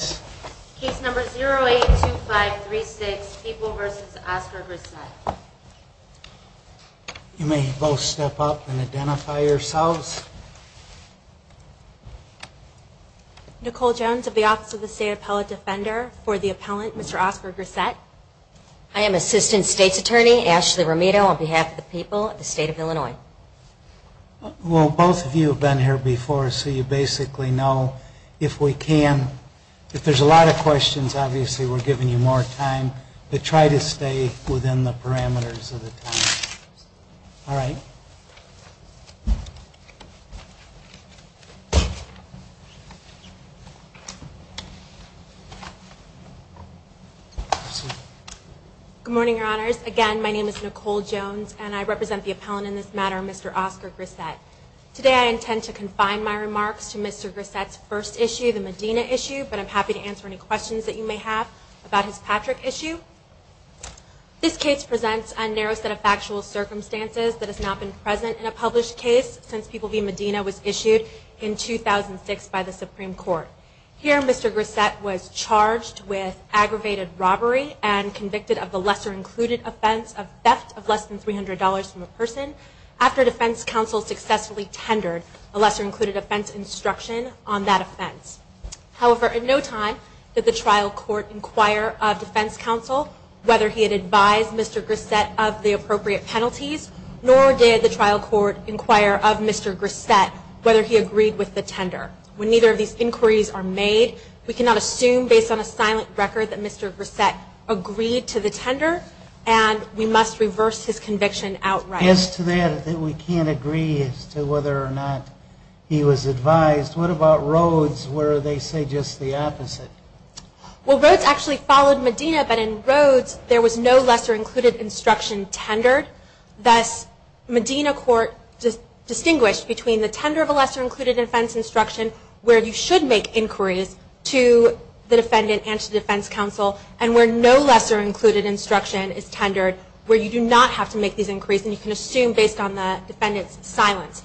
082536 People v. Oscar Grissett You may both step up and identify yourselves. Nicole Jones of the Office of the State Appellate Defender. For the appellant, Mr. Oscar Grissett. I am Assistant State's Attorney Ashley Romito on behalf of the people of the State of Illinois. Well, both of you have been here before, so you basically know if we can. If there's a lot of questions, obviously we're giving you more time. But try to stay within the parameters of the time. All right. Good morning, Your Honors. Again, my name is Nicole Jones, and I represent the appellant in this matter, Mr. Oscar Grissett. Today I intend to confine my remarks to Mr. Grissett's first issue, the Medina issue, but I'm happy to answer any questions that you may have about his Patrick issue. This case presents a narrow set of factual circumstances that has not been present in a published case since People v. Medina was issued in 2006 by the Supreme Court. Here, Mr. Grissett was charged with aggravated robbery and convicted of the lesser-included offense of theft of less than $300 from a person after defense counsel successfully tendered a lesser-included offense instruction on that offense. However, in no time did the trial court inquire of defense counsel whether he had advised Mr. Grissett of the appropriate penalties, nor did the trial court inquire of Mr. Grissett whether he agreed with the tender. When neither of these inquiries are made, we cannot assume based on a silent record that Mr. Grissett agreed to the tender, and we must reverse his conviction outright. As to that, that we can't agree as to whether or not he was advised, what about Rhodes, where they say just the opposite? Well, Rhodes actually followed Medina, but in Rhodes there was no lesser-included instruction tendered. Thus, Medina court distinguished between the tender of a lesser-included offense instruction where you should make inquiries to the defendant and to defense counsel, and where no lesser-included instruction is tendered, where you do not have to make these inquiries, and you can assume based on the defendant's silence.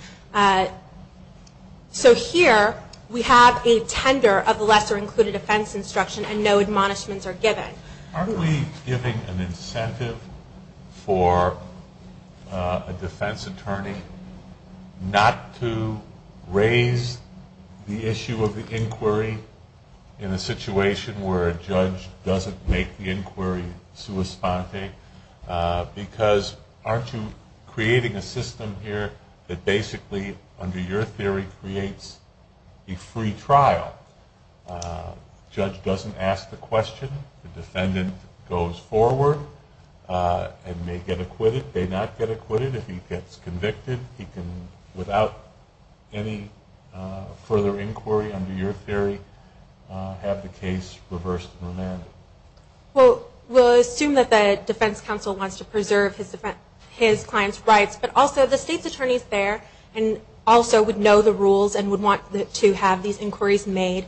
So here we have a tender of a lesser-included offense instruction and no admonishments are given. Aren't we giving an incentive for a defense attorney not to raise the issue of the inquiry in a situation where a judge doesn't make the inquiry sua sponte? Because aren't you creating a system here that basically, under your theory, creates a free trial? The judge doesn't ask the question. The defendant goes forward and may get acquitted, may not get acquitted. If he gets convicted, he can, without any further inquiry under your theory, have the case reversed and remanded. Well, we'll assume that the defense counsel wants to preserve his client's rights, but also the state's attorneys there also would know the rules and would want to have these inquiries made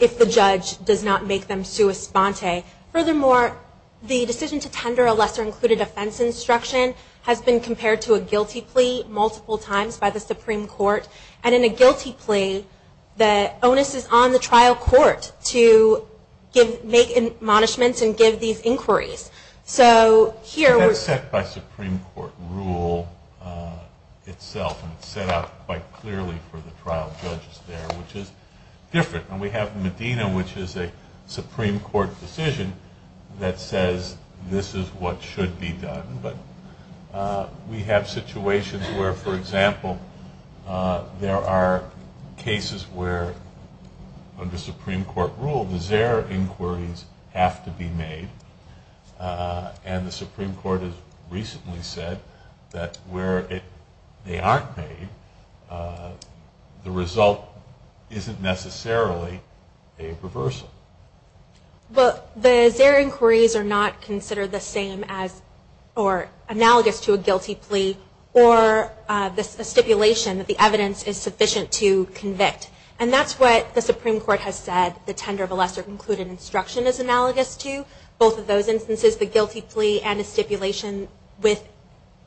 if the judge does not make them sua sponte. Furthermore, the decision to tender a lesser-included offense instruction has been compared to a guilty plea multiple times by the Supreme Court, and in a guilty plea, the onus is on the trial court to make admonishments and give these inquiries. So here we're... That's set by Supreme Court rule itself, and it's set out quite clearly for the trial judges there, which is different. And we have Medina, which is a Supreme Court decision that says this is what should be done. But we have situations where, for example, there are cases where, under Supreme Court rule, does their inquiries have to be made, and the Supreme Court has recently said that where they aren't made, the result isn't necessarily a reversal. Well, their inquiries are not considered the same as or analogous to a guilty plea or a stipulation that the evidence is sufficient to convict. And that's what the Supreme Court has said the tender of a lesser-included instruction is analogous to. Both of those instances, the guilty plea and a stipulation with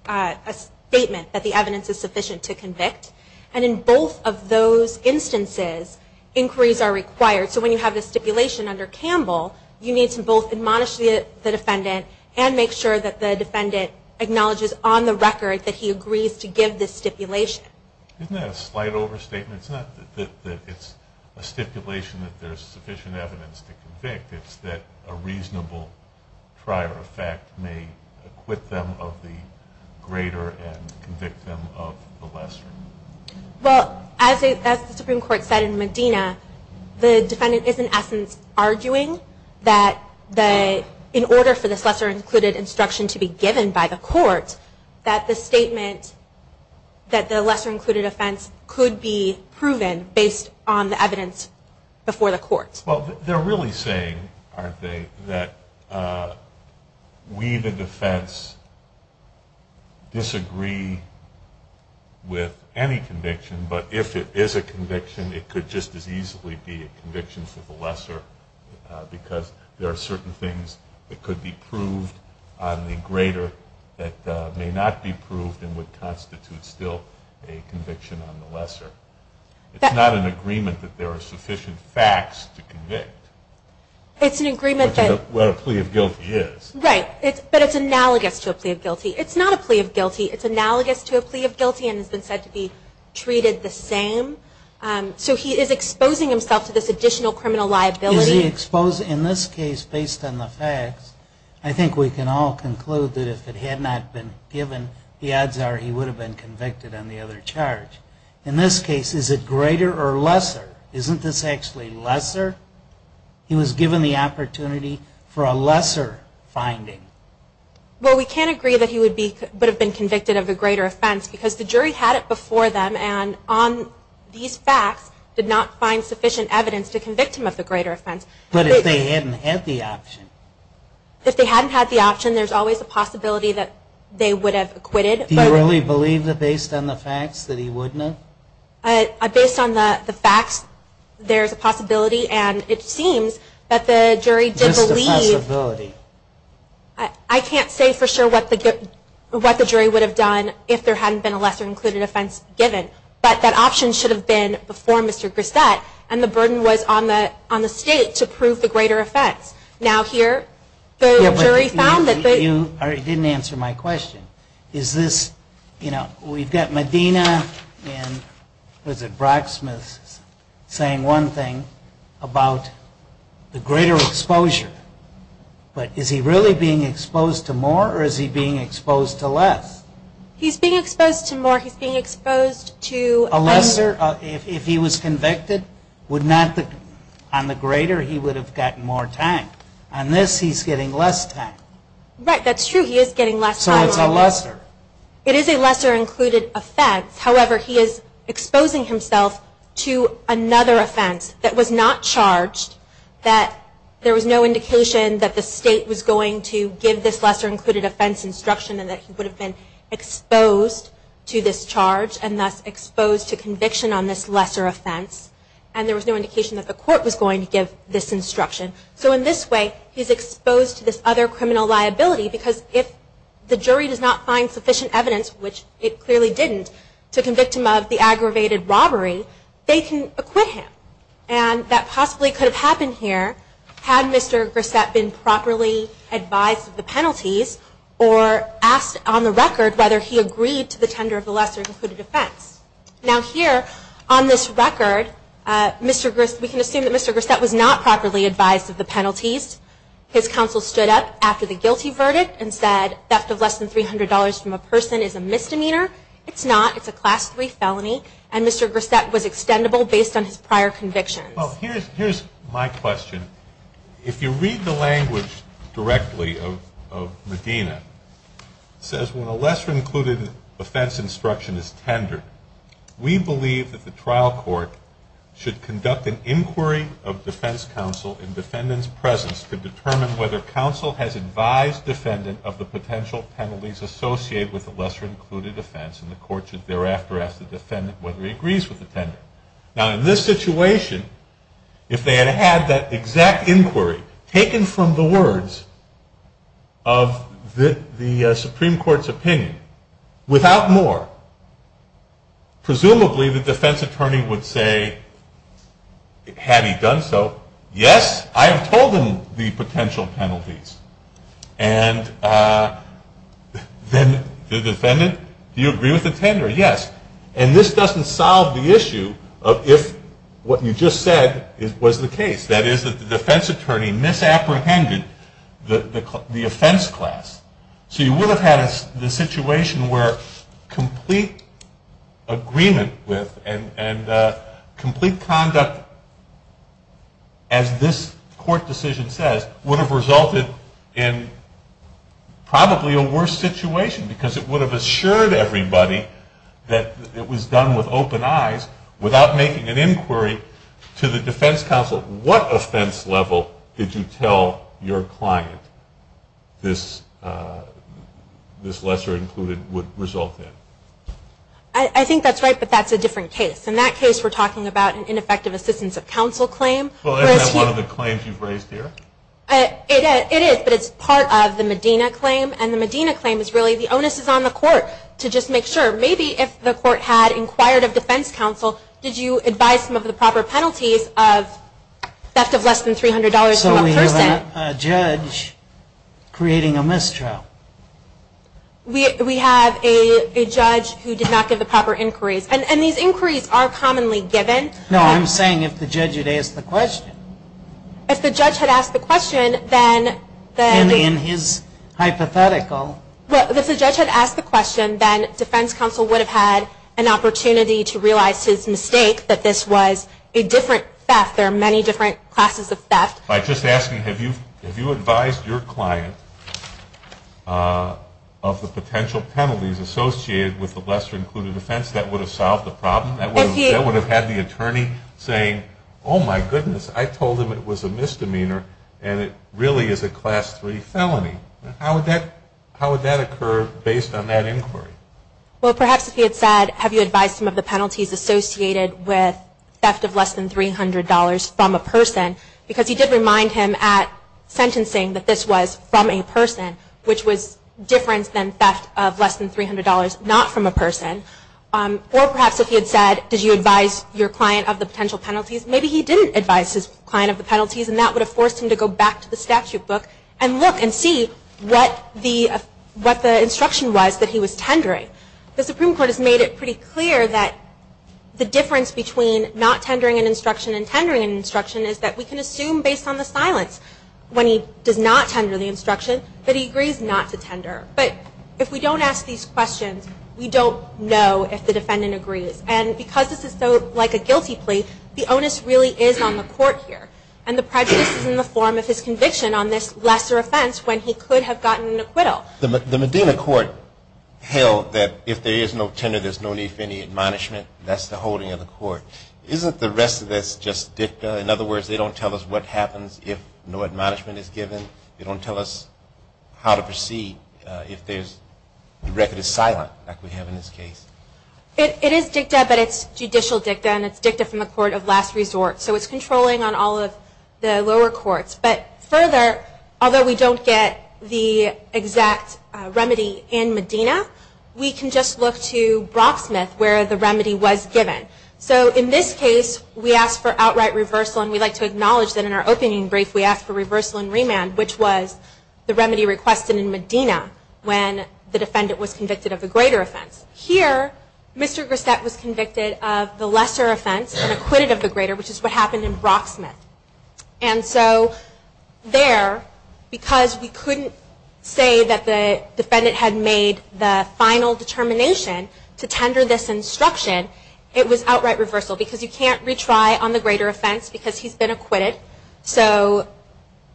a statement that the evidence is sufficient to convict. And in both of those instances, inquiries are required. So when you have a stipulation under Campbell, you need to both admonish the defendant and make sure that the defendant acknowledges on the record that he agrees to give this stipulation. Isn't that a slight overstatement? It's not that it's a stipulation that there's sufficient evidence to convict. It's that a reasonable prior effect may acquit them of the greater and convict them of the lesser. Well, as the Supreme Court said in Medina, the defendant is, in essence, arguing that in order for this lesser-included instruction to be given by the court, that the statement that the lesser-included offense could be proven based on the evidence before the court. Well, they're really saying, aren't they, that we, the defense, disagree with any conviction, but if it is a conviction, it could just as easily be a conviction for the lesser because there are certain things that could be proved on the greater that may not be proved and would constitute still a conviction on the lesser. It's not an agreement that there are sufficient facts to convict. It's an agreement that... What a plea of guilty is. Right, but it's analogous to a plea of guilty. It's not a plea of guilty. It's analogous to a plea of guilty and has been said to be treated the same. So he is exposing himself to this additional criminal liability. Is he exposing... In this case, based on the facts, I think we can all conclude that if it had not been given, the odds are he would have been convicted on the other charge. In this case, is it greater or lesser? Isn't this actually lesser? He was given the opportunity for a lesser finding. Well, we can't agree that he would have been convicted of a greater offense because the jury had it before them and on these facts, did not find sufficient evidence to convict him of the greater offense. But if they hadn't had the option. If they hadn't had the option, there's always a possibility that they would have acquitted. Do you really believe that based on the facts that he wouldn't have? Based on the facts, there's a possibility and it seems that the jury did believe... Missed a possibility. I can't say for sure what the jury would have done if there hadn't been a lesser included offense given. But that option should have been before Mr. Grissett and the burden was on the state to prove the greater offense. Now here, the jury found that they... You didn't answer my question. Is this... We've got Medina and Brock Smith saying one thing about the greater exposure. But is he really being exposed to more or is he being exposed to less? He's being exposed to more. He's being exposed to... A lesser... If he was convicted, would not... On the greater, he would have gotten more time. On this, he's getting less time. Right, that's true. He is getting less time. So it's a lesser. It is a lesser included offense. However, he is exposing himself to another offense that was not charged, that there was no indication that the state was going to give this lesser included offense instruction and that he would have been exposed to this charge and thus exposed to conviction on this lesser offense. And there was no indication that the court was going to give this instruction. So in this way, he's exposed to this other criminal liability because if the jury does not find sufficient evidence, which it clearly didn't, to convict him of the aggravated robbery, they can acquit him. And that possibly could have happened here had Mr. Grissett been properly advised of the penalties or asked on the record whether he agreed to the tender of the lesser included offense. Now here, on this record, Mr. Griss... We can assume that Mr. Grissett was not properly advised of the penalties. His counsel stood up after the guilty verdict and said theft of less than $300 from a person is a misdemeanor. It's not. It's a Class III felony. And Mr. Grissett was extendable based on his prior convictions. Well, here's my question. If you read the language directly of Medina, it says when a lesser included offense instruction is tendered, we believe that the trial court should conduct an inquiry of defense counsel in defendant's presence to determine whether counsel has advised defendant of the potential penalties associated with the lesser included offense, and the court should thereafter ask the defendant whether he agrees with the tender. Now in this situation, if they had had that exact inquiry taken from the words of the Supreme Court's opinion, without more, presumably the defense attorney would say, had he done so, yes, I have told him the potential penalties. And then the defendant, do you agree with the tender? Yes. And this doesn't solve the issue of if what you just said was the case. That is, that the defense attorney misapprehended the offense class. So you would have had the situation where complete agreement with and complete conduct, as this court decision says, would have resulted in probably a worse situation because it would have assured everybody that it was done with open eyes without making an inquiry to the defense counsel. So what offense level did you tell your client this lesser included would result in? I think that's right, but that's a different case. In that case we're talking about an ineffective assistance of counsel claim. Well, isn't that one of the claims you've raised here? It is, but it's part of the Medina claim, and the Medina claim is really the onus is on the court to just make sure. Maybe if the court had inquired of defense counsel, did you advise some of the proper penalties of theft of less than $300 per person? So we have a judge creating a mistrial. We have a judge who did not give the proper inquiries, and these inquiries are commonly given. No, I'm saying if the judge had asked the question. If the judge had asked the question, then... And in his hypothetical... Well, if the judge had asked the question, then defense counsel would have had an opportunity to realize his mistake, that this was a different theft. There are many different classes of theft. I'm just asking, have you advised your client of the potential penalties associated with the lesser included offense that would have solved the problem? That would have had the attorney saying, oh, my goodness, I told him it was a misdemeanor, and it really is a class 3 felony. How would that occur based on that inquiry? Well, perhaps if he had said, have you advised him of the penalties associated with theft of less than $300 from a person? Because he did remind him at sentencing that this was from a person, which was different than theft of less than $300 not from a person. Or perhaps if he had said, did you advise your client of the potential penalties? Maybe he didn't advise his client of the penalties, and that would have forced him to go back to the statute book and look and see what the instruction was that he was tendering. The Supreme Court has made it pretty clear that the difference between not tendering an instruction and tendering an instruction is that we can assume based on the silence when he does not tender the instruction that he agrees not to tender. But if we don't ask these questions, we don't know if the defendant agrees. And because this is so like a guilty plea, the onus really is on the court here. And the prejudice is in the form of his conviction on this lesser offense when he could have gotten an acquittal. The Medina court held that if there is no tender, there's no need for any admonishment. That's the holding of the court. Isn't the rest of this just dicta? In other words, they don't tell us what happens if no admonishment is given. They don't tell us how to proceed if the record is silent like we have in this case. It is dicta, but it's judicial dicta, and it's dicta from the court of last resort. So it's controlling on all of the lower courts. But further, although we don't get the exact remedy in Medina, we can just look to Brocksmith where the remedy was given. So in this case, we asked for outright reversal, and we'd like to acknowledge that in our opening brief we asked for reversal and remand, which was the remedy requested in Medina when the defendant was convicted of a greater offense. Here, Mr. Grissett was convicted of the lesser offense and acquitted of the greater, which is what happened in Brocksmith. And so there, because we couldn't say that the defendant had made the final determination to tender this instruction, it was outright reversal, because you can't retry on the greater offense because he's been acquitted. So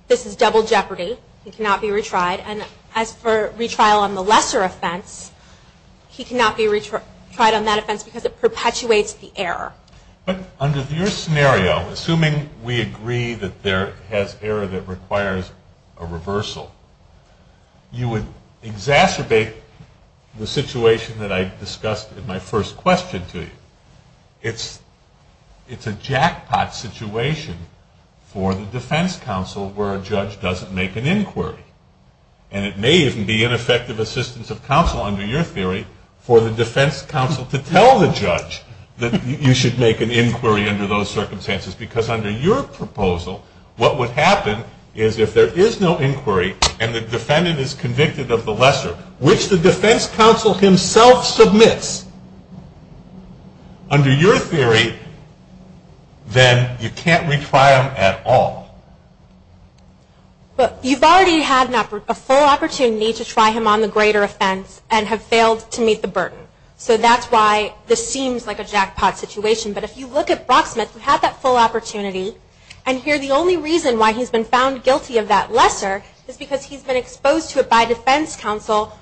this is double jeopardy. He cannot be retried. And as for retrial on the lesser offense, he cannot be retried on that offense because it perpetuates the error. But under your scenario, assuming we agree that there is error that requires a reversal, you would exacerbate the situation that I discussed in my first question to you. It's a jackpot situation for the defense counsel where a judge doesn't make an inquiry. And it may even be ineffective assistance of counsel, under your theory, for the defense counsel to tell the judge that you should make an inquiry under those circumstances. Because under your proposal, what would happen is if there is no inquiry and the defendant is convicted of the lesser, which the defense counsel himself submits, under your theory, then you can't retry him at all. But you've already had a full opportunity to try him on the greater offense and have failed to meet the burden. So that's why this seems like a jackpot situation. But if you look at Brocksmith, who had that full opportunity, and here the only reason why he's been found guilty of that lesser is because he's been exposed to it by defense counsel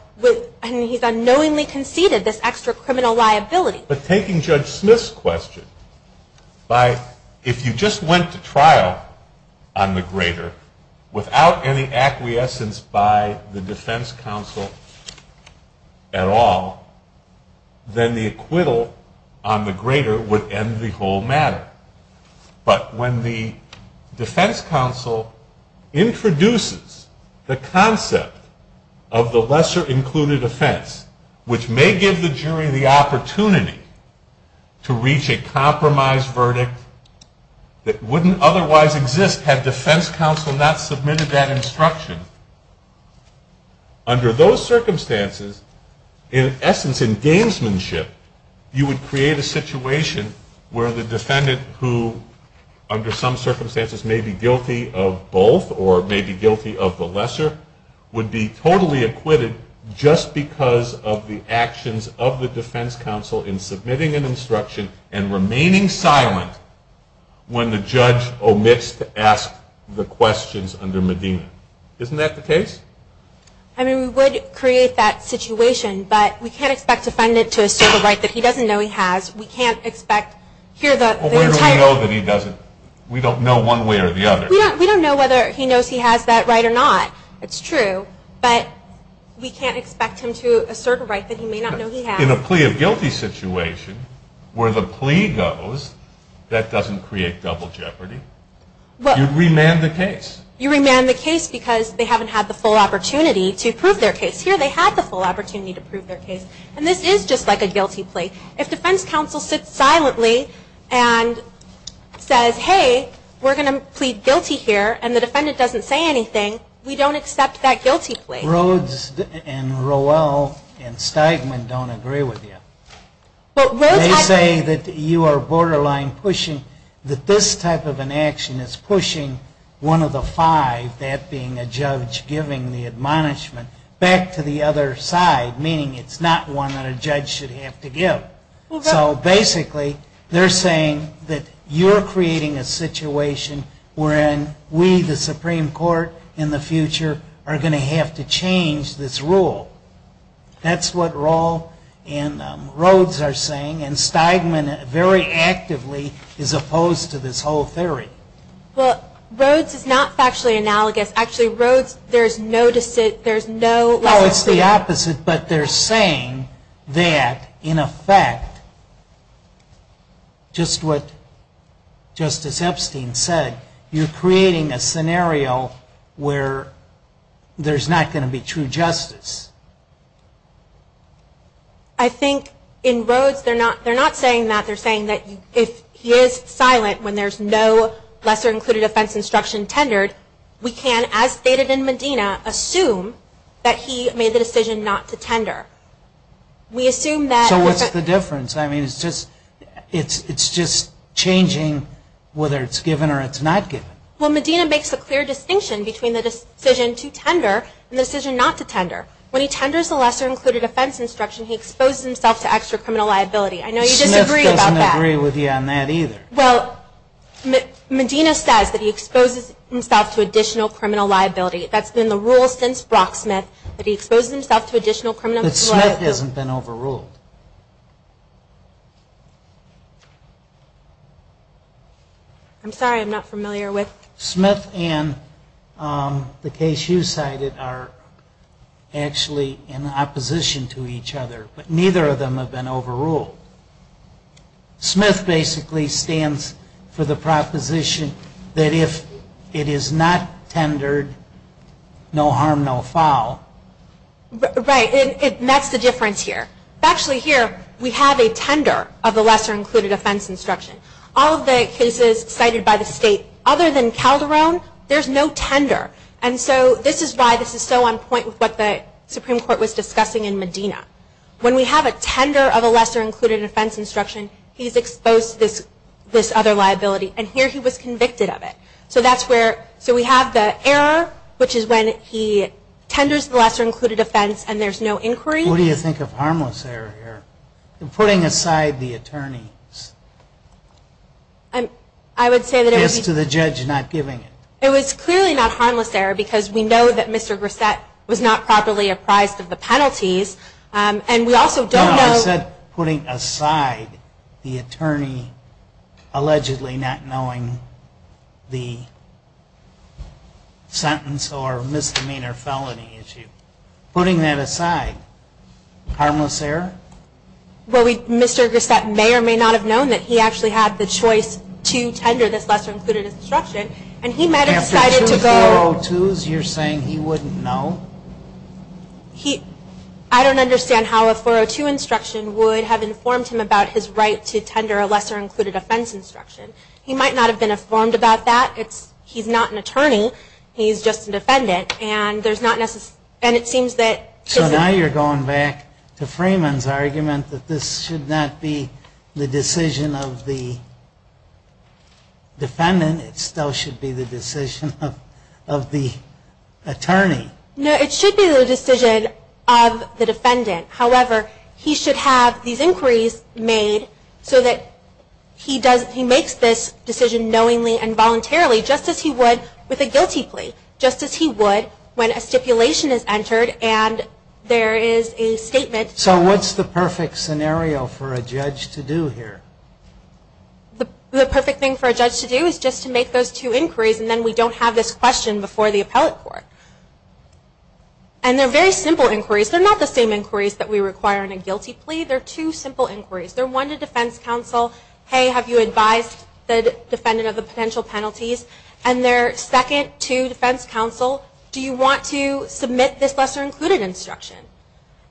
and he's unknowingly conceded this extra criminal liability. But taking Judge Smith's question, if you just went to trial on the greater without any acquiescence by the defense counsel at all, then the acquittal on the greater would end the whole matter. But when the defense counsel introduces the concept of the lesser included offense, which may give the jury the opportunity to reach a compromise verdict that wouldn't otherwise exist had defense counsel not submitted that instruction, under those circumstances, in essence, in gamesmanship, you would create a situation where the defendant who, under some circumstances, may be guilty of both or may be guilty of the lesser, would be totally acquitted just because of the actions of the defense counsel in submitting an instruction and remaining silent when the judge omits to ask the questions under Medina. Isn't that the case? I mean, we would create that situation, but we can't expect a defendant to assert a right that he doesn't know he has. We can't expect here the entire... Well, where do we know that he doesn't? We don't know one way or the other. We don't know whether he knows he has that right or not. It's true, but we can't expect him to assert a right that he may not know he has. In a plea of guilty situation, where the plea goes, that doesn't create double jeopardy. You'd remand the case. You remand the case because they haven't had the full opportunity to prove their case. Here they had the full opportunity to prove their case, and this is just like a guilty plea. If defense counsel sits silently and says, hey, we're going to plead guilty here, and the defendant doesn't say anything, we don't accept that guilty plea. Rhodes and Rowell and Steigman don't agree with you. They say that you are borderline pushing, that this type of an action is pushing one of the five, that being a judge giving the admonishment, back to the other side, meaning it's not one that a judge should have to give. So basically they're saying that you're creating a situation wherein we, the Supreme Court, in the future, are going to have to change this rule. That's what Rowell and Rhodes are saying, and Steigman very actively is opposed to this whole theory. Well, Rhodes is not factually analogous. Actually, Rhodes, there's no... Oh, it's the opposite, but they're saying that, in effect, just what Justice Epstein said, you're creating a scenario where there's not going to be true justice. I think in Rhodes, they're not saying that. They're saying that if he is silent when there's no lesser-included offense instruction tendered, we can, as stated in Medina, assume that he made the decision not to tender. So what's the difference? I mean, it's just changing whether it's given or it's not given. Well, Medina makes a clear distinction between the decision to tender and the decision not to tender. When he tenders the lesser-included offense instruction, he exposes himself to extra criminal liability. I know you disagree about that. Smith doesn't agree with you on that either. Well, Medina says that he exposes himself to additional criminal liability. That's been the rule since Brock Smith, that he exposes himself to additional criminal liability. But Smith hasn't been overruled. I'm sorry, I'm not familiar with... Smith and the case you cited are actually in opposition to each other. But neither of them have been overruled. Smith basically stands for the proposition that if it is not tendered, no harm, no foul. Right, and that's the difference here. Actually here, we have a tender of the lesser-included offense instruction. All of the cases cited by the state other than Calderon, there's no tender. And so this is why this is so on point with what the Supreme Court was discussing in Medina. When we have a tender of a lesser-included offense instruction, he's exposed to this other liability. And here he was convicted of it. So that's where... So we have the error, which is when he tenders the lesser-included offense and there's no inquiry. What do you think of harmless error here? Putting aside the attorneys. I would say that it would be... Yes, to the judge not giving it. It was clearly not harmless error because we know that Mr. Grissett was not properly apprised of the penalties. And we also don't know... No, I said putting aside the attorney allegedly not knowing the sentence or misdemeanor felony issue. Putting that aside, harmless error? Well, Mr. Grissett may or may not have known that he actually had the choice to tender this lesser-included instruction. And he might have decided to go... After two 402s, you're saying he wouldn't know? I don't understand how a 402 instruction would have informed him about his right to tender a lesser-included offense instruction. He might not have been informed about that. He's not an attorney. He's just a defendant. And it seems that... So now you're going back to Freeman's argument that this should not be the decision of the defendant. It still should be the decision of the attorney. No, it should be the decision of the defendant. However, he should have these inquiries made so that he makes this decision knowingly and voluntarily, just as he would with a guilty plea. Just as he would when a stipulation is entered and there is a statement... So what's the perfect scenario for a judge to do here? The perfect thing for a judge to do is just to make those two inquiries and then we don't have this question before the appellate court. And they're very simple inquiries. They're not the same inquiries that we require in a guilty plea. They're two simple inquiries. They're one to defense counsel. Hey, have you advised the defendant of the potential penalties? And they're second to defense counsel. Do you want to submit this lesser included instruction?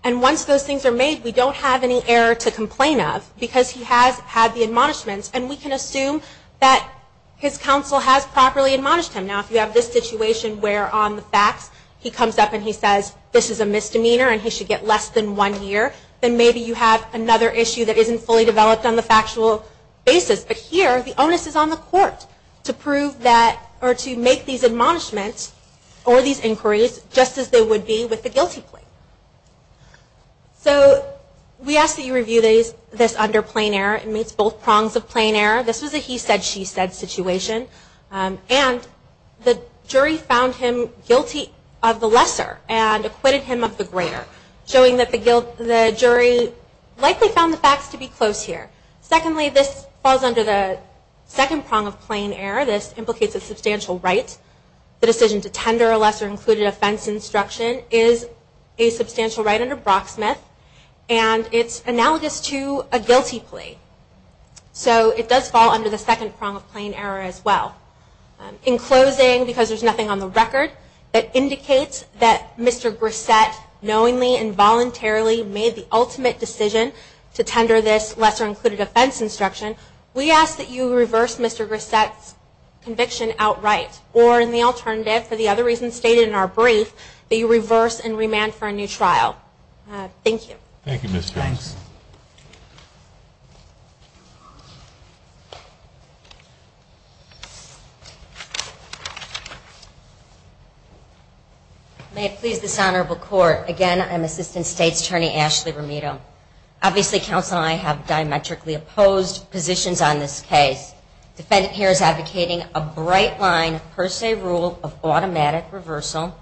And once those things are made, we don't have any error to complain of because he has had the admonishments and we can assume that his counsel has properly admonished him. Now if you have this situation where on the facts he comes up and he says, this is a misdemeanor and he should get less than one year, then maybe you have another issue that isn't fully developed on the factual basis. But here the onus is on the court to prove that or to make these admonishments or these inquiries just as they would be with the guilty plea. So we ask that you review this under plain error. It meets both prongs of plain error. This was a he said, she said situation. And the jury found him guilty of the lesser and acquitted him of the greater, showing that the jury likely found the facts to be close here. Secondly, this falls under the second prong of plain error. This implicates a substantial right. The decision to tender a lesser included offense instruction is a substantial right under Brocksmith. And it's analogous to a guilty plea. So it does fall under the second prong of plain error as well. In closing, because there's nothing on the record, that indicates that Mr. Grissett knowingly and voluntarily made the ultimate decision to tender this lesser included offense instruction, we ask that you reverse Mr. Grissett's conviction outright. Or in the alternative, for the other reasons stated in our brief, that you reverse and remand for a new trial. Thank you. Thank you, Ms. Jones. May it please this honorable court, again, I'm Assistant State's Attorney Ashley Romito. Obviously counsel and I have diametrically opposed positions on this case. The defendant here is advocating a bright line per se rule of automatic reversal,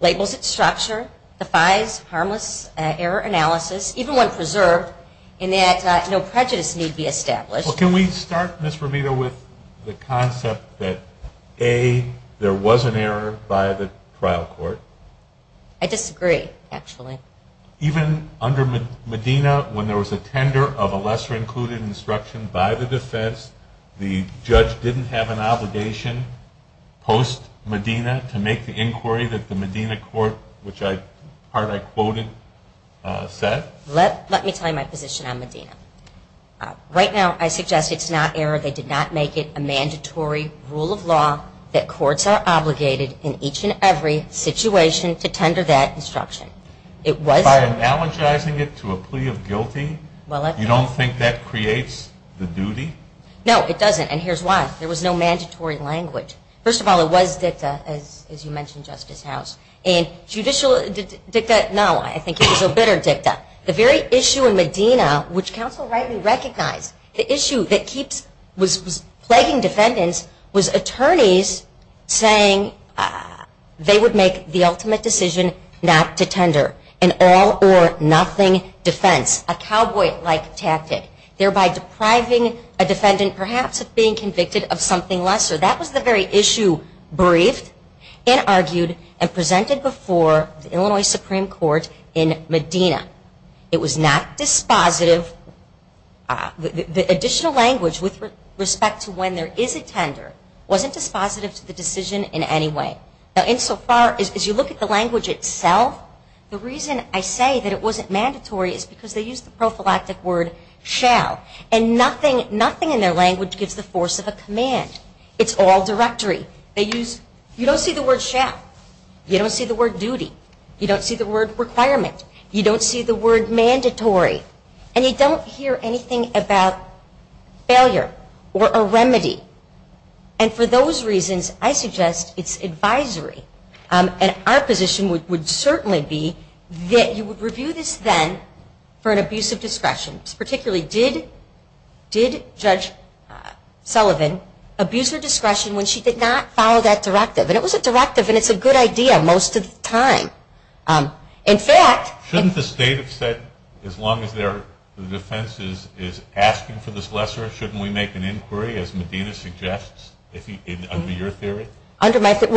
labels its structure, defies harmless error analysis, even when preserved in that no prejudice need be established. Well, can we start, Ms. Romito, with the concept that A, there was an error by the trial court. I disagree, actually. Even under Medina, when there was a tender of a lesser included instruction by the defense, the judge didn't have an obligation, post Medina, to make the inquiry that the Medina court, which I quoted, said? Let me tell you my position on Medina. Right now, I suggest it's not error. They did not make it a mandatory rule of law that courts are obligated in each and every situation to tender that instruction. By analogizing it to a plea of guilty, you don't think that creates the duty? No, it doesn't, and here's why. There was no mandatory language. First of all, it was dicta, as you mentioned, Justice House. And judicial dicta, no, I think it was a bitter dicta. The very issue in Medina, which counsel rightly recognized, the issue that was plaguing defendants was attorneys saying they would make the ultimate decision not to tender an all-or-nothing defense, a cowboy-like tactic, thereby depriving a defendant, perhaps, of being convicted of something lesser. That was the very issue briefed and argued and presented before the Illinois Supreme Court in Medina. It was not dispositive. The additional language with respect to when there is a tender wasn't dispositive to the decision in any way. Now, insofar, as you look at the language itself, the reason I say that it wasn't mandatory is because they used the prophylactic word shall. And nothing in their language gives the force of a command. It's all directory. You don't see the word shall. You don't see the word duty. You don't see the word requirement. You don't see the word mandatory. And you don't hear anything about failure or a remedy. And for those reasons, I suggest it's advisory. And our position would certainly be that you would review this then for an abuse of discretion. Particularly, did Judge Sullivan abuse her discretion when she did not follow that directive? And it was a directive, and it's a good idea most of the time. In fact, shouldn't the state have said as long as their defense is asking for this lesser, shouldn't we make an inquiry, as Medina suggests, under your theory? Well,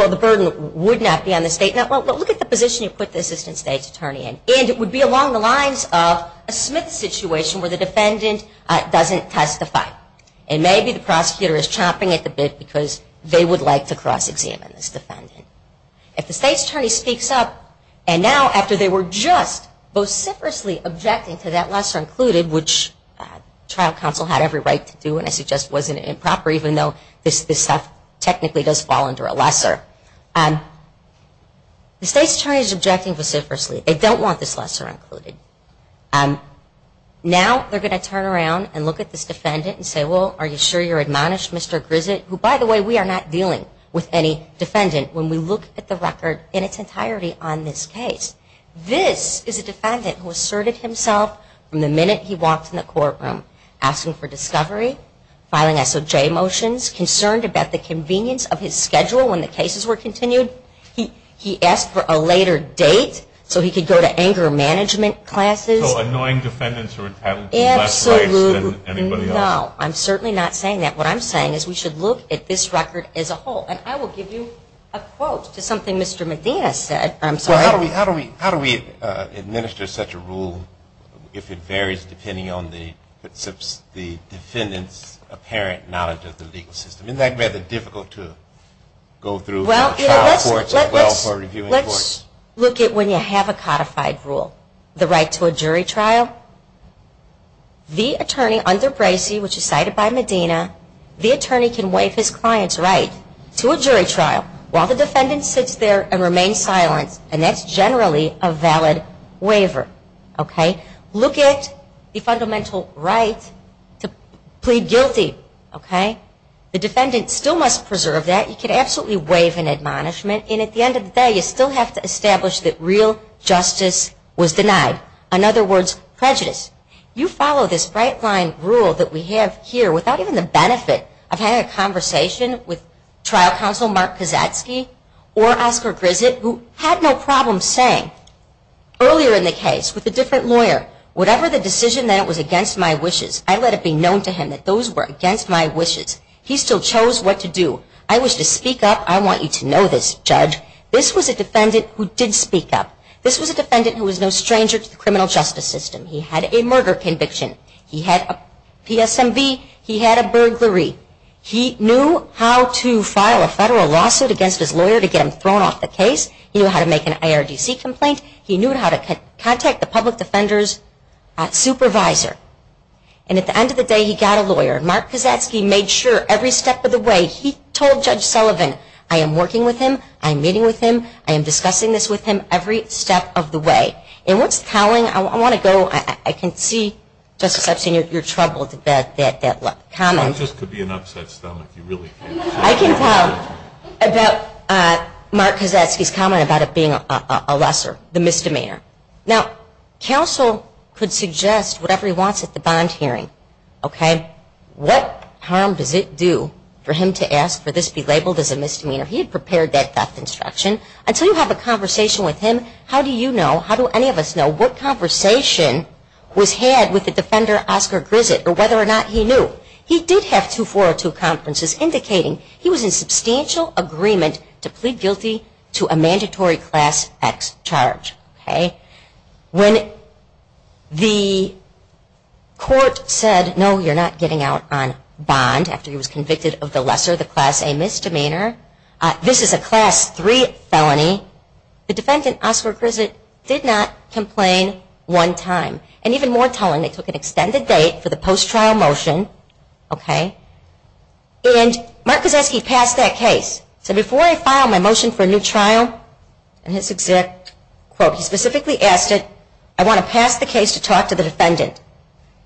the burden would not be on the state. Well, look at the position you put the assistant state's attorney in. And it would be along the lines of a Smith situation where the defendant doesn't testify. And maybe the prosecutor is chomping at the bit because they would like to cross-examine this defendant. If the state's attorney speaks up, and now after they were just vociferously objecting to that lesser included, which trial counsel had every right to do, and I suggest wasn't improper, even though this stuff technically does fall under a lesser. The state's attorney is objecting vociferously. They don't want this lesser included. Now they're going to turn around and look at this defendant and say, well, are you sure you're admonished, Mr. Grissett, who, by the way, we are not dealing with any defendant when we look at the record in its entirety on this case. This is a defendant who asserted himself from the minute he walked in the courtroom, asking for discovery, filing SOJ motions, concerned about the convenience of his schedule when the cases were continued. He asked for a later date so he could go to anger management classes. So annoying defendants are entitled to less rights than anybody else. Absolutely. No, I'm certainly not saying that. What I'm saying is we should look at this record as a whole. And I will give you a quote to something Mr. Medina said. I'm sorry. How do we administer such a rule if it varies depending on the defendant's apparent knowledge of the legal system? Isn't that rather difficult to go through? Well, let's look at when you have a codified rule. The right to a jury trial, the attorney under Bracey, which is cited by Medina, the attorney can waive his client's right to a jury trial while the defendant sits there and remains silent, and that's generally a valid waiver. Look at the fundamental right to plead guilty. The defendant still must preserve that. He can absolutely waive an admonishment. And at the end of the day, you still have to establish that real justice was denied. In other words, prejudice. You follow this bright-line rule that we have here without even the benefit of having a conversation with trial counsel Mark Kozatsky or Oscar Grissett, who had no problem saying earlier in the case with a different lawyer, whatever the decision that it was against my wishes, I let it be known to him that those were against my wishes. He still chose what to do. I wish to speak up. I want you to know this, judge. This was a defendant who did speak up. This was a defendant who was no stranger to the criminal justice system. He had a murder conviction. He had a PSMV. He had a burglary. He knew how to file a federal lawsuit against his lawyer to get him thrown off the case. He knew how to make an IRDC complaint. He knew how to contact the public defender's supervisor. And at the end of the day, he got a lawyer. Mark Kozatsky made sure every step of the way he told Judge Sullivan, I am working with him. I am meeting with him. I am discussing this with him every step of the way. And what's telling, I want to go, I can see, Justice Epstein, you're troubled at that comment. It just could be an upset stomach. You really can't. I can tell about Mark Kozatsky's comment about it being a lesser, the misdemeanor. Now, counsel could suggest whatever he wants at the bond hearing, okay? What harm does it do for him to ask for this be labeled as a misdemeanor? He had prepared that theft instruction. Until you have a conversation with him, how do you know, how do any of us know, what conversation was had with the defender, Oscar Grissett, or whether or not he knew? He did have two 402 conferences indicating he was in substantial agreement to plead guilty to a mandatory Class X charge, okay? When the court said, no, you're not getting out on bond after he was convicted of the lesser, the Class A misdemeanor. This is a Class III felony. The defendant, Oscar Grissett, did not complain one time. And even more telling, they took an extended date for the post-trial motion, okay? And Mark Kozatsky passed that case. He said, before I file my motion for a new trial, and his exact quote, he specifically asked it, I want to pass the case to talk to the defendant.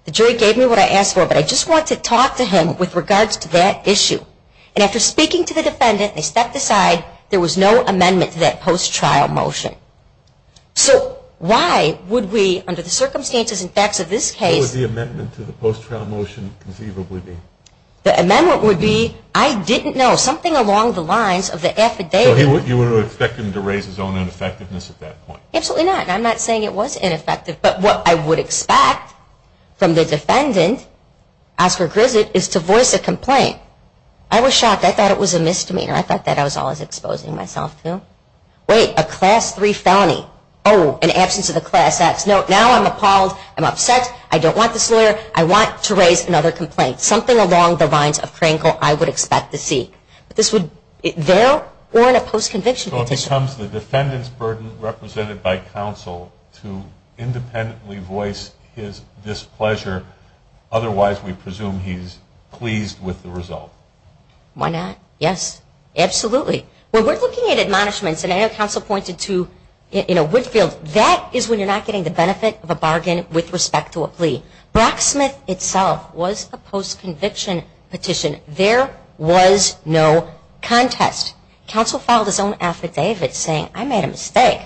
The jury gave me what I asked for, but I just want to talk to him with regards to that issue. And after speaking to the defendant, they stepped aside. There was no amendment to that post-trial motion. So why would we, under the circumstances and facts of this case. What would the amendment to the post-trial motion conceivably be? The amendment would be, I didn't know. Something along the lines of the affidavit. So you would expect him to raise his own ineffectiveness at that point? Absolutely not. And I'm not saying it was ineffective. But what I would expect from the defendant, Oscar Grissett, is to voice a complaint. I was shocked. I thought it was a misdemeanor. I thought that I was always exposing myself to. Wait, a Class III felony. Oh, in absence of the Class X. No, now I'm appalled. I'm upset. I don't want this lawyer. I want to raise another complaint. Something along the lines of Krankel, I would expect to see. But this would, there or in a post-conviction petition. So it becomes the defendant's burden, represented by counsel, to independently voice his displeasure. Otherwise, we presume he's pleased with the result. Why not? Yes. Absolutely. When we're looking at admonishments, and I know counsel pointed to, in a Woodfield, that is when you're not getting the benefit of a bargain with respect to a plea. Brocksmith itself was a post-conviction petition. There was no contest. Counsel filed his own affidavit saying, I made a mistake.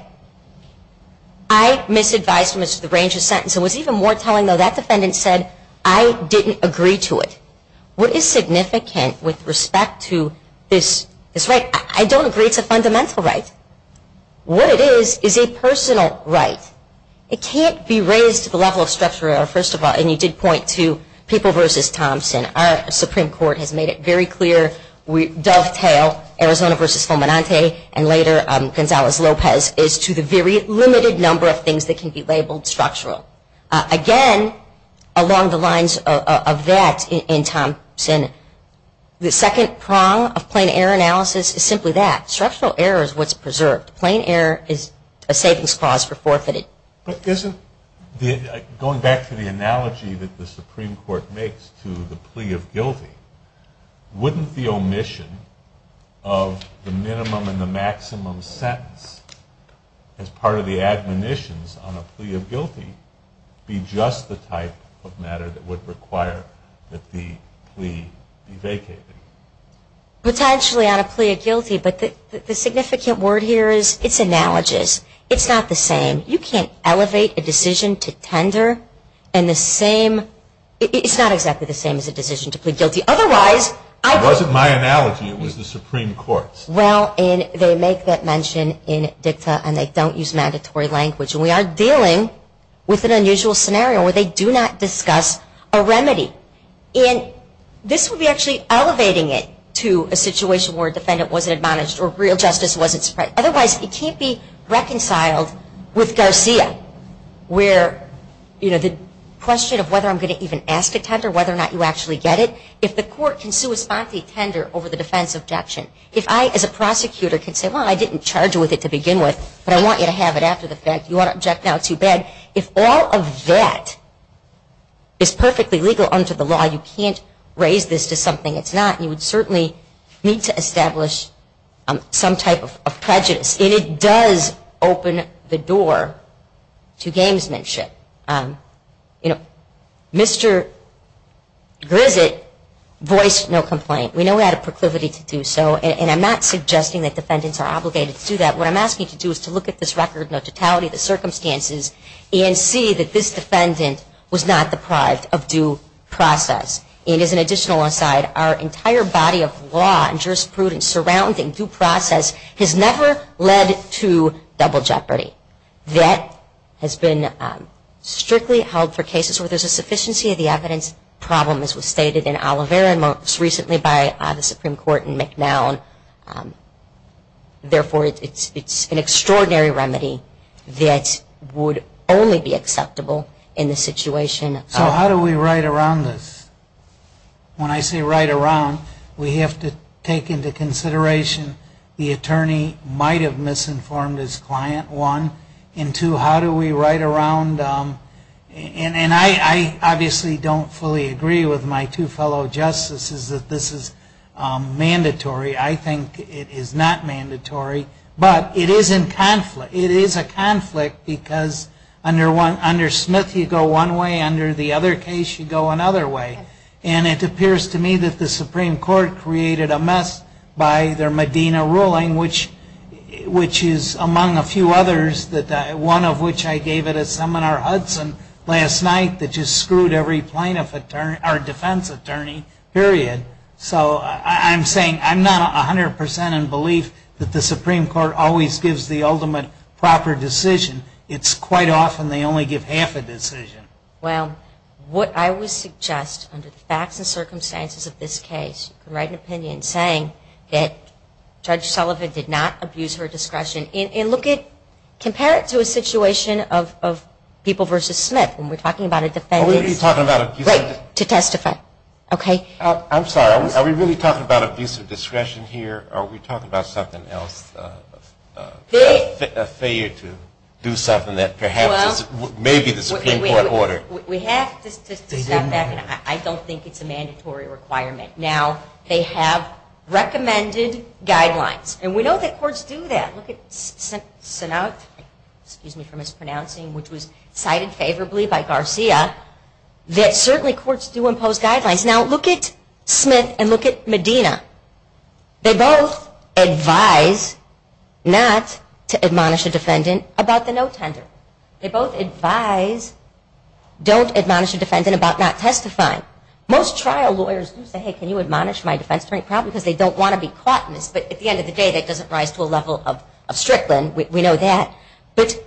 I misadvised him as to the range of sentences. It was even more telling, though, that defendant said, I didn't agree to it. What is significant with respect to this right? I don't agree it's a fundamental right. What it is, is a personal right. It can't be raised to the level of structural error, first of all. And you did point to People v. Thompson. Our Supreme Court has made it very clear, dovetail Arizona v. Fomenante, and later Gonzalez-Lopez, as to the very limited number of things that can be labeled structural. Again, along the lines of that in Thompson, the second prong of plain error analysis is simply that. Structural error is what's preserved. Plain error is a savings clause for forfeited. Going back to the analogy that the Supreme Court makes to the plea of guilty, wouldn't the omission of the minimum and the maximum sentence as part of the admonitions on a plea of guilty be just the type of matter that would require that the plea be vacated? Potentially on a plea of guilty. But the significant word here is it's analogous. It's not the same. You can't elevate a decision to tender and the same, it's not exactly the same as a decision to plead guilty. Otherwise, I. It wasn't my analogy, it was the Supreme Court's. Well, and they make that mention in dicta and they don't use mandatory language. And we are dealing with an unusual scenario where they do not discuss a remedy. And this would be actually elevating it to a situation where a defendant wasn't admonished or real justice wasn't spread. Otherwise, it can't be reconciled with Garcia where, you know, the question of whether I'm going to even ask a tender, whether or not you actually get it. If the court can sui sponte tender over the defense objection. If I, as a prosecutor, can say, well, I didn't charge with it to begin with, but I want you to have it after the fact, you ought to object now, it's too bad. If all of that is perfectly legal under the law, you can't raise this to something it's not. You would certainly need to establish some type of prejudice. And it does open the door to gamesmanship. You know, Mr. Grissett voiced no complaint. We know we had a proclivity to do so. And I'm not suggesting that defendants are obligated to do that. What I'm asking you to do is to look at this record, the totality of the circumstances, and see that this defendant was not deprived of due process. And as an additional aside, our entire body of law and jurisprudence surrounding due process has never led to double jeopardy. That has been strictly held for cases where there's a sufficiency of the evidence problem, as was stated in Oliveira most recently by the Supreme Court in McNown. Therefore, it's an extraordinary remedy that would only be acceptable in the situation. So how do we write around this? When I say write around, we have to take into consideration the attorney might have misinformed his client, one. And two, how do we write around, and I obviously don't fully agree with my two fellow justices that this is mandatory. I think it is not mandatory, but it is in conflict. It is a conflict because under Smith you go one way, under the other case you go another way. And it appears to me that the Supreme Court created a mess by their Medina ruling, which is among a few others, one of which I gave at a seminar Hudson last night that just screwed every plaintiff or defense attorney, period. So I'm saying I'm not 100% in belief that the Supreme Court always gives the ultimate proper decision. It's quite often they only give half a decision. Well, what I would suggest under the facts and circumstances of this case, you can write an opinion saying that Judge Sullivan did not abuse her discretion. And look at, compare it to a situation of people versus Smith. And we're talking about a defense. Wait, to testify, okay. I'm sorry, are we really talking about abuse of discretion here, or are we talking about something else, a failure to do something that perhaps is maybe the Supreme Court order? We have to step back, and I don't think it's a mandatory requirement. Now, they have recommended guidelines. And we know that courts do that. And look at Sinott, excuse me for mispronouncing, which was cited favorably by Garcia, that certainly courts do impose guidelines. Now, look at Smith and look at Medina. They both advise not to admonish a defendant about the no tender. They both advise don't admonish a defendant about not testifying. Most trial lawyers do say, hey, can you admonish my defense attorney? Probably because they don't want to be caught in this. But at the end of the day, that doesn't rise to a level of strickland. We know that. But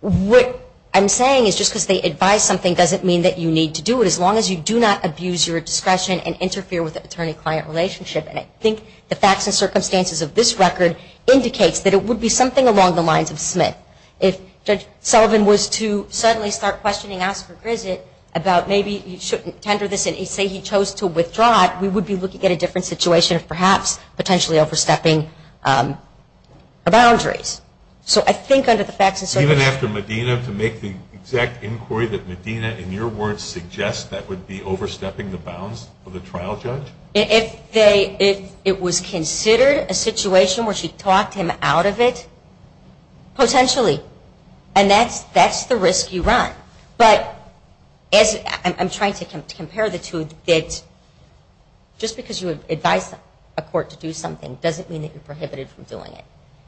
what I'm saying is just because they advise something doesn't mean that you need to do it, as long as you do not abuse your discretion and interfere with the attorney-client relationship. And I think the facts and circumstances of this record indicates that it would be something along the lines of Smith. If Judge Sullivan was to suddenly start questioning Oscar Grissett about maybe he shouldn't tender this and say he chose to withdraw it, we would be looking at a different situation, perhaps potentially overstepping boundaries. So I think under the facts and circumstances. Even after Medina, to make the exact inquiry that Medina, in your words, suggests that would be overstepping the bounds of the trial judge? If it was considered a situation where she talked him out of it, potentially. And that's the risk you run. But I'm trying to compare the two that just because you advise a court to do something doesn't mean that you're prohibited from doing it.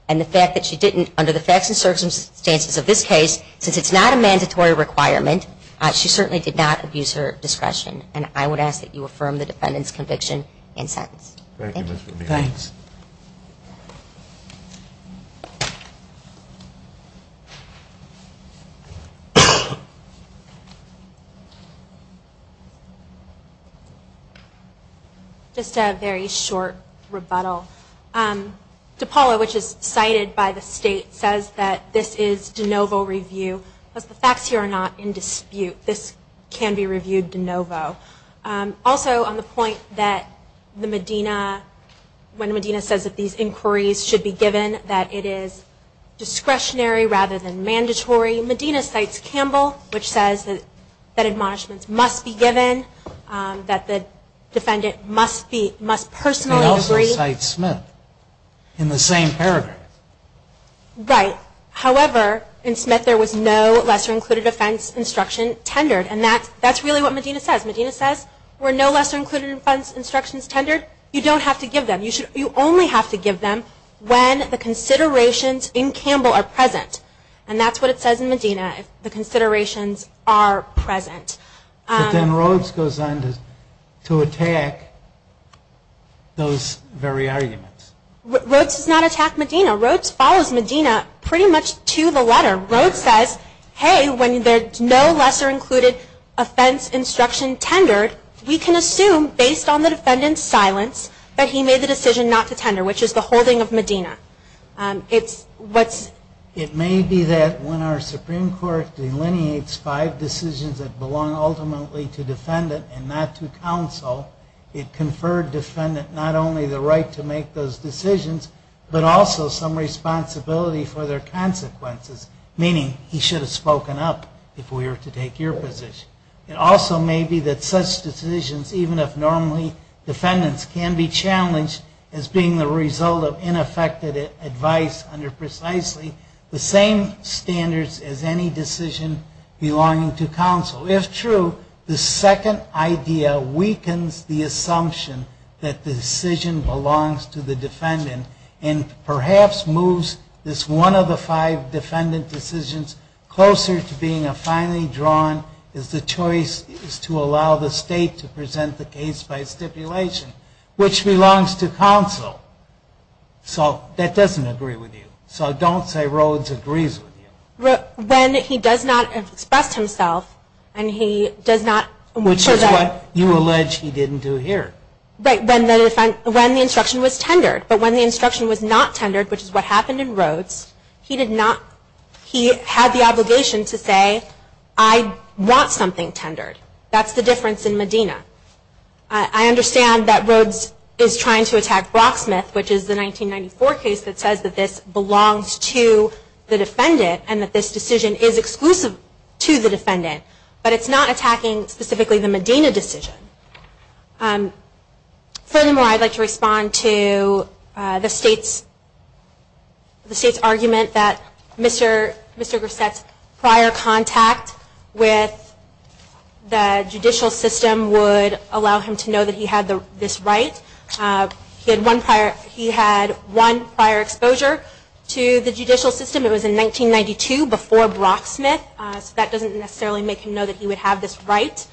And the fact that she didn't, under the facts and circumstances of this case, since it's not a mandatory requirement, she certainly did not abuse her discretion. And I would ask that you affirm the defendant's conviction and sentence. Thank you, Ms. Medina. Thanks. Just a very short rebuttal. DePaulo, which is cited by the state, says that this is de novo review. The facts here are not in dispute. This can be reviewed de novo. Also, on the point that Medina, when Medina says that these inquiries should be given, that it is discretionary rather than mandatory, Medina cites Campbell, which says that admonishments must be given, that the defendant must personally agree. It also cites Smith in the same paragraph. Right. However, in Smith there was no lesser included offense instruction tendered. And that's really what Medina says. Medina says, were no lesser included offense instructions tendered, you don't have to give them. You only have to give them when the considerations in Campbell are present. And that's what it says in Medina, the considerations are present. But then Rhodes goes on to attack those very arguments. Rhodes does not attack Medina. Rhodes follows Medina pretty much to the letter. Rhodes says, hey, when there's no lesser included offense instruction tendered, we can assume based on the defendant's silence that he made the decision not to tender, which is the holding of Medina. It may be that when our Supreme Court delineates five decisions that belong ultimately to defendant and not to counsel, it conferred defendant not only the right to make those decisions, but also some responsibility for their consequences, meaning he should have spoken up if we were to take your position. It also may be that such decisions, even if normally defendants can be challenged as being the result of ineffective advice under precisely the same standards as any decision belonging to counsel. If true, the second idea weakens the assumption that the decision belongs to the defendant and perhaps moves this one of the five defendant decisions closer to being a finely drawn, is the choice is to allow the state to present the case by stipulation, which belongs to counsel. So that doesn't agree with you. So don't say Rhodes agrees with you. When he does not express himself and he does not... Which is what you allege he didn't do here. When the instruction was tendered. But when the instruction was not tendered, which is what happened in Rhodes, he had the obligation to say, I want something tendered. That's the difference in Medina. I understand that Rhodes is trying to attack Brocksmith, which is the 1994 case that says that this belongs to the defendant and that this decision is exclusive to the defendant. But it's not attacking specifically the Medina decision. Furthermore, I'd like to respond to the state's argument that Mr. Grissett's prior contact with the judicial system would allow him to know that he had this right. He had one prior exposure to the judicial system. It was in 1992 before Brocksmith. So that doesn't necessarily make him know that he would have this right.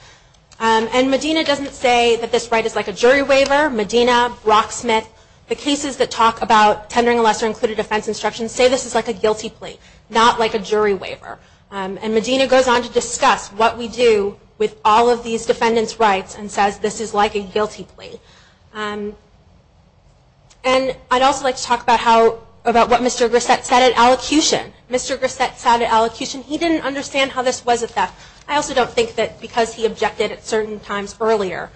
And Medina doesn't say that this right is like a jury waiver. Medina, Brocksmith, the cases that talk about tendering a lesser-included defense instruction say this is like a guilty plea, not like a jury waiver. And Medina goes on to discuss what we do with all of these defendants' rights and says this is like a guilty plea. And I'd also like to talk about what Mr. Grissett said at allocution. Mr. Grissett said at allocution he didn't understand how this was a theft. I also don't think that because he objected at certain times earlier,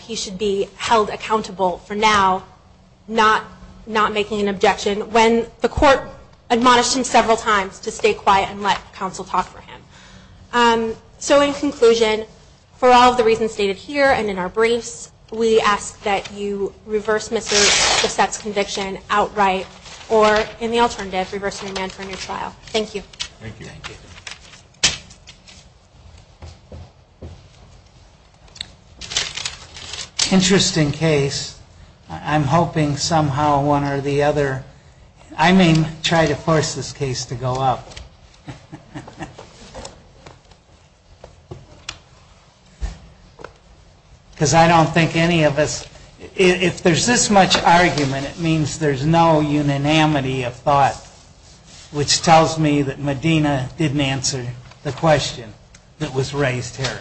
he should be held accountable for now not making an objection when the court admonished him several times to stay quiet and let counsel talk for him. So in conclusion, for all of the reasons stated here and in our briefs, we ask that you reverse Mr. Grissett's conviction outright or in the alternative, reverse the demand for a new trial. Thank you. Interesting case. I'm hoping somehow one or the other, I mean, try to force this case to go up. Because I don't think any of us, if there's this much argument, it means there's no unanimity of thought, which tells me that Medina didn't answer the question that was raised here.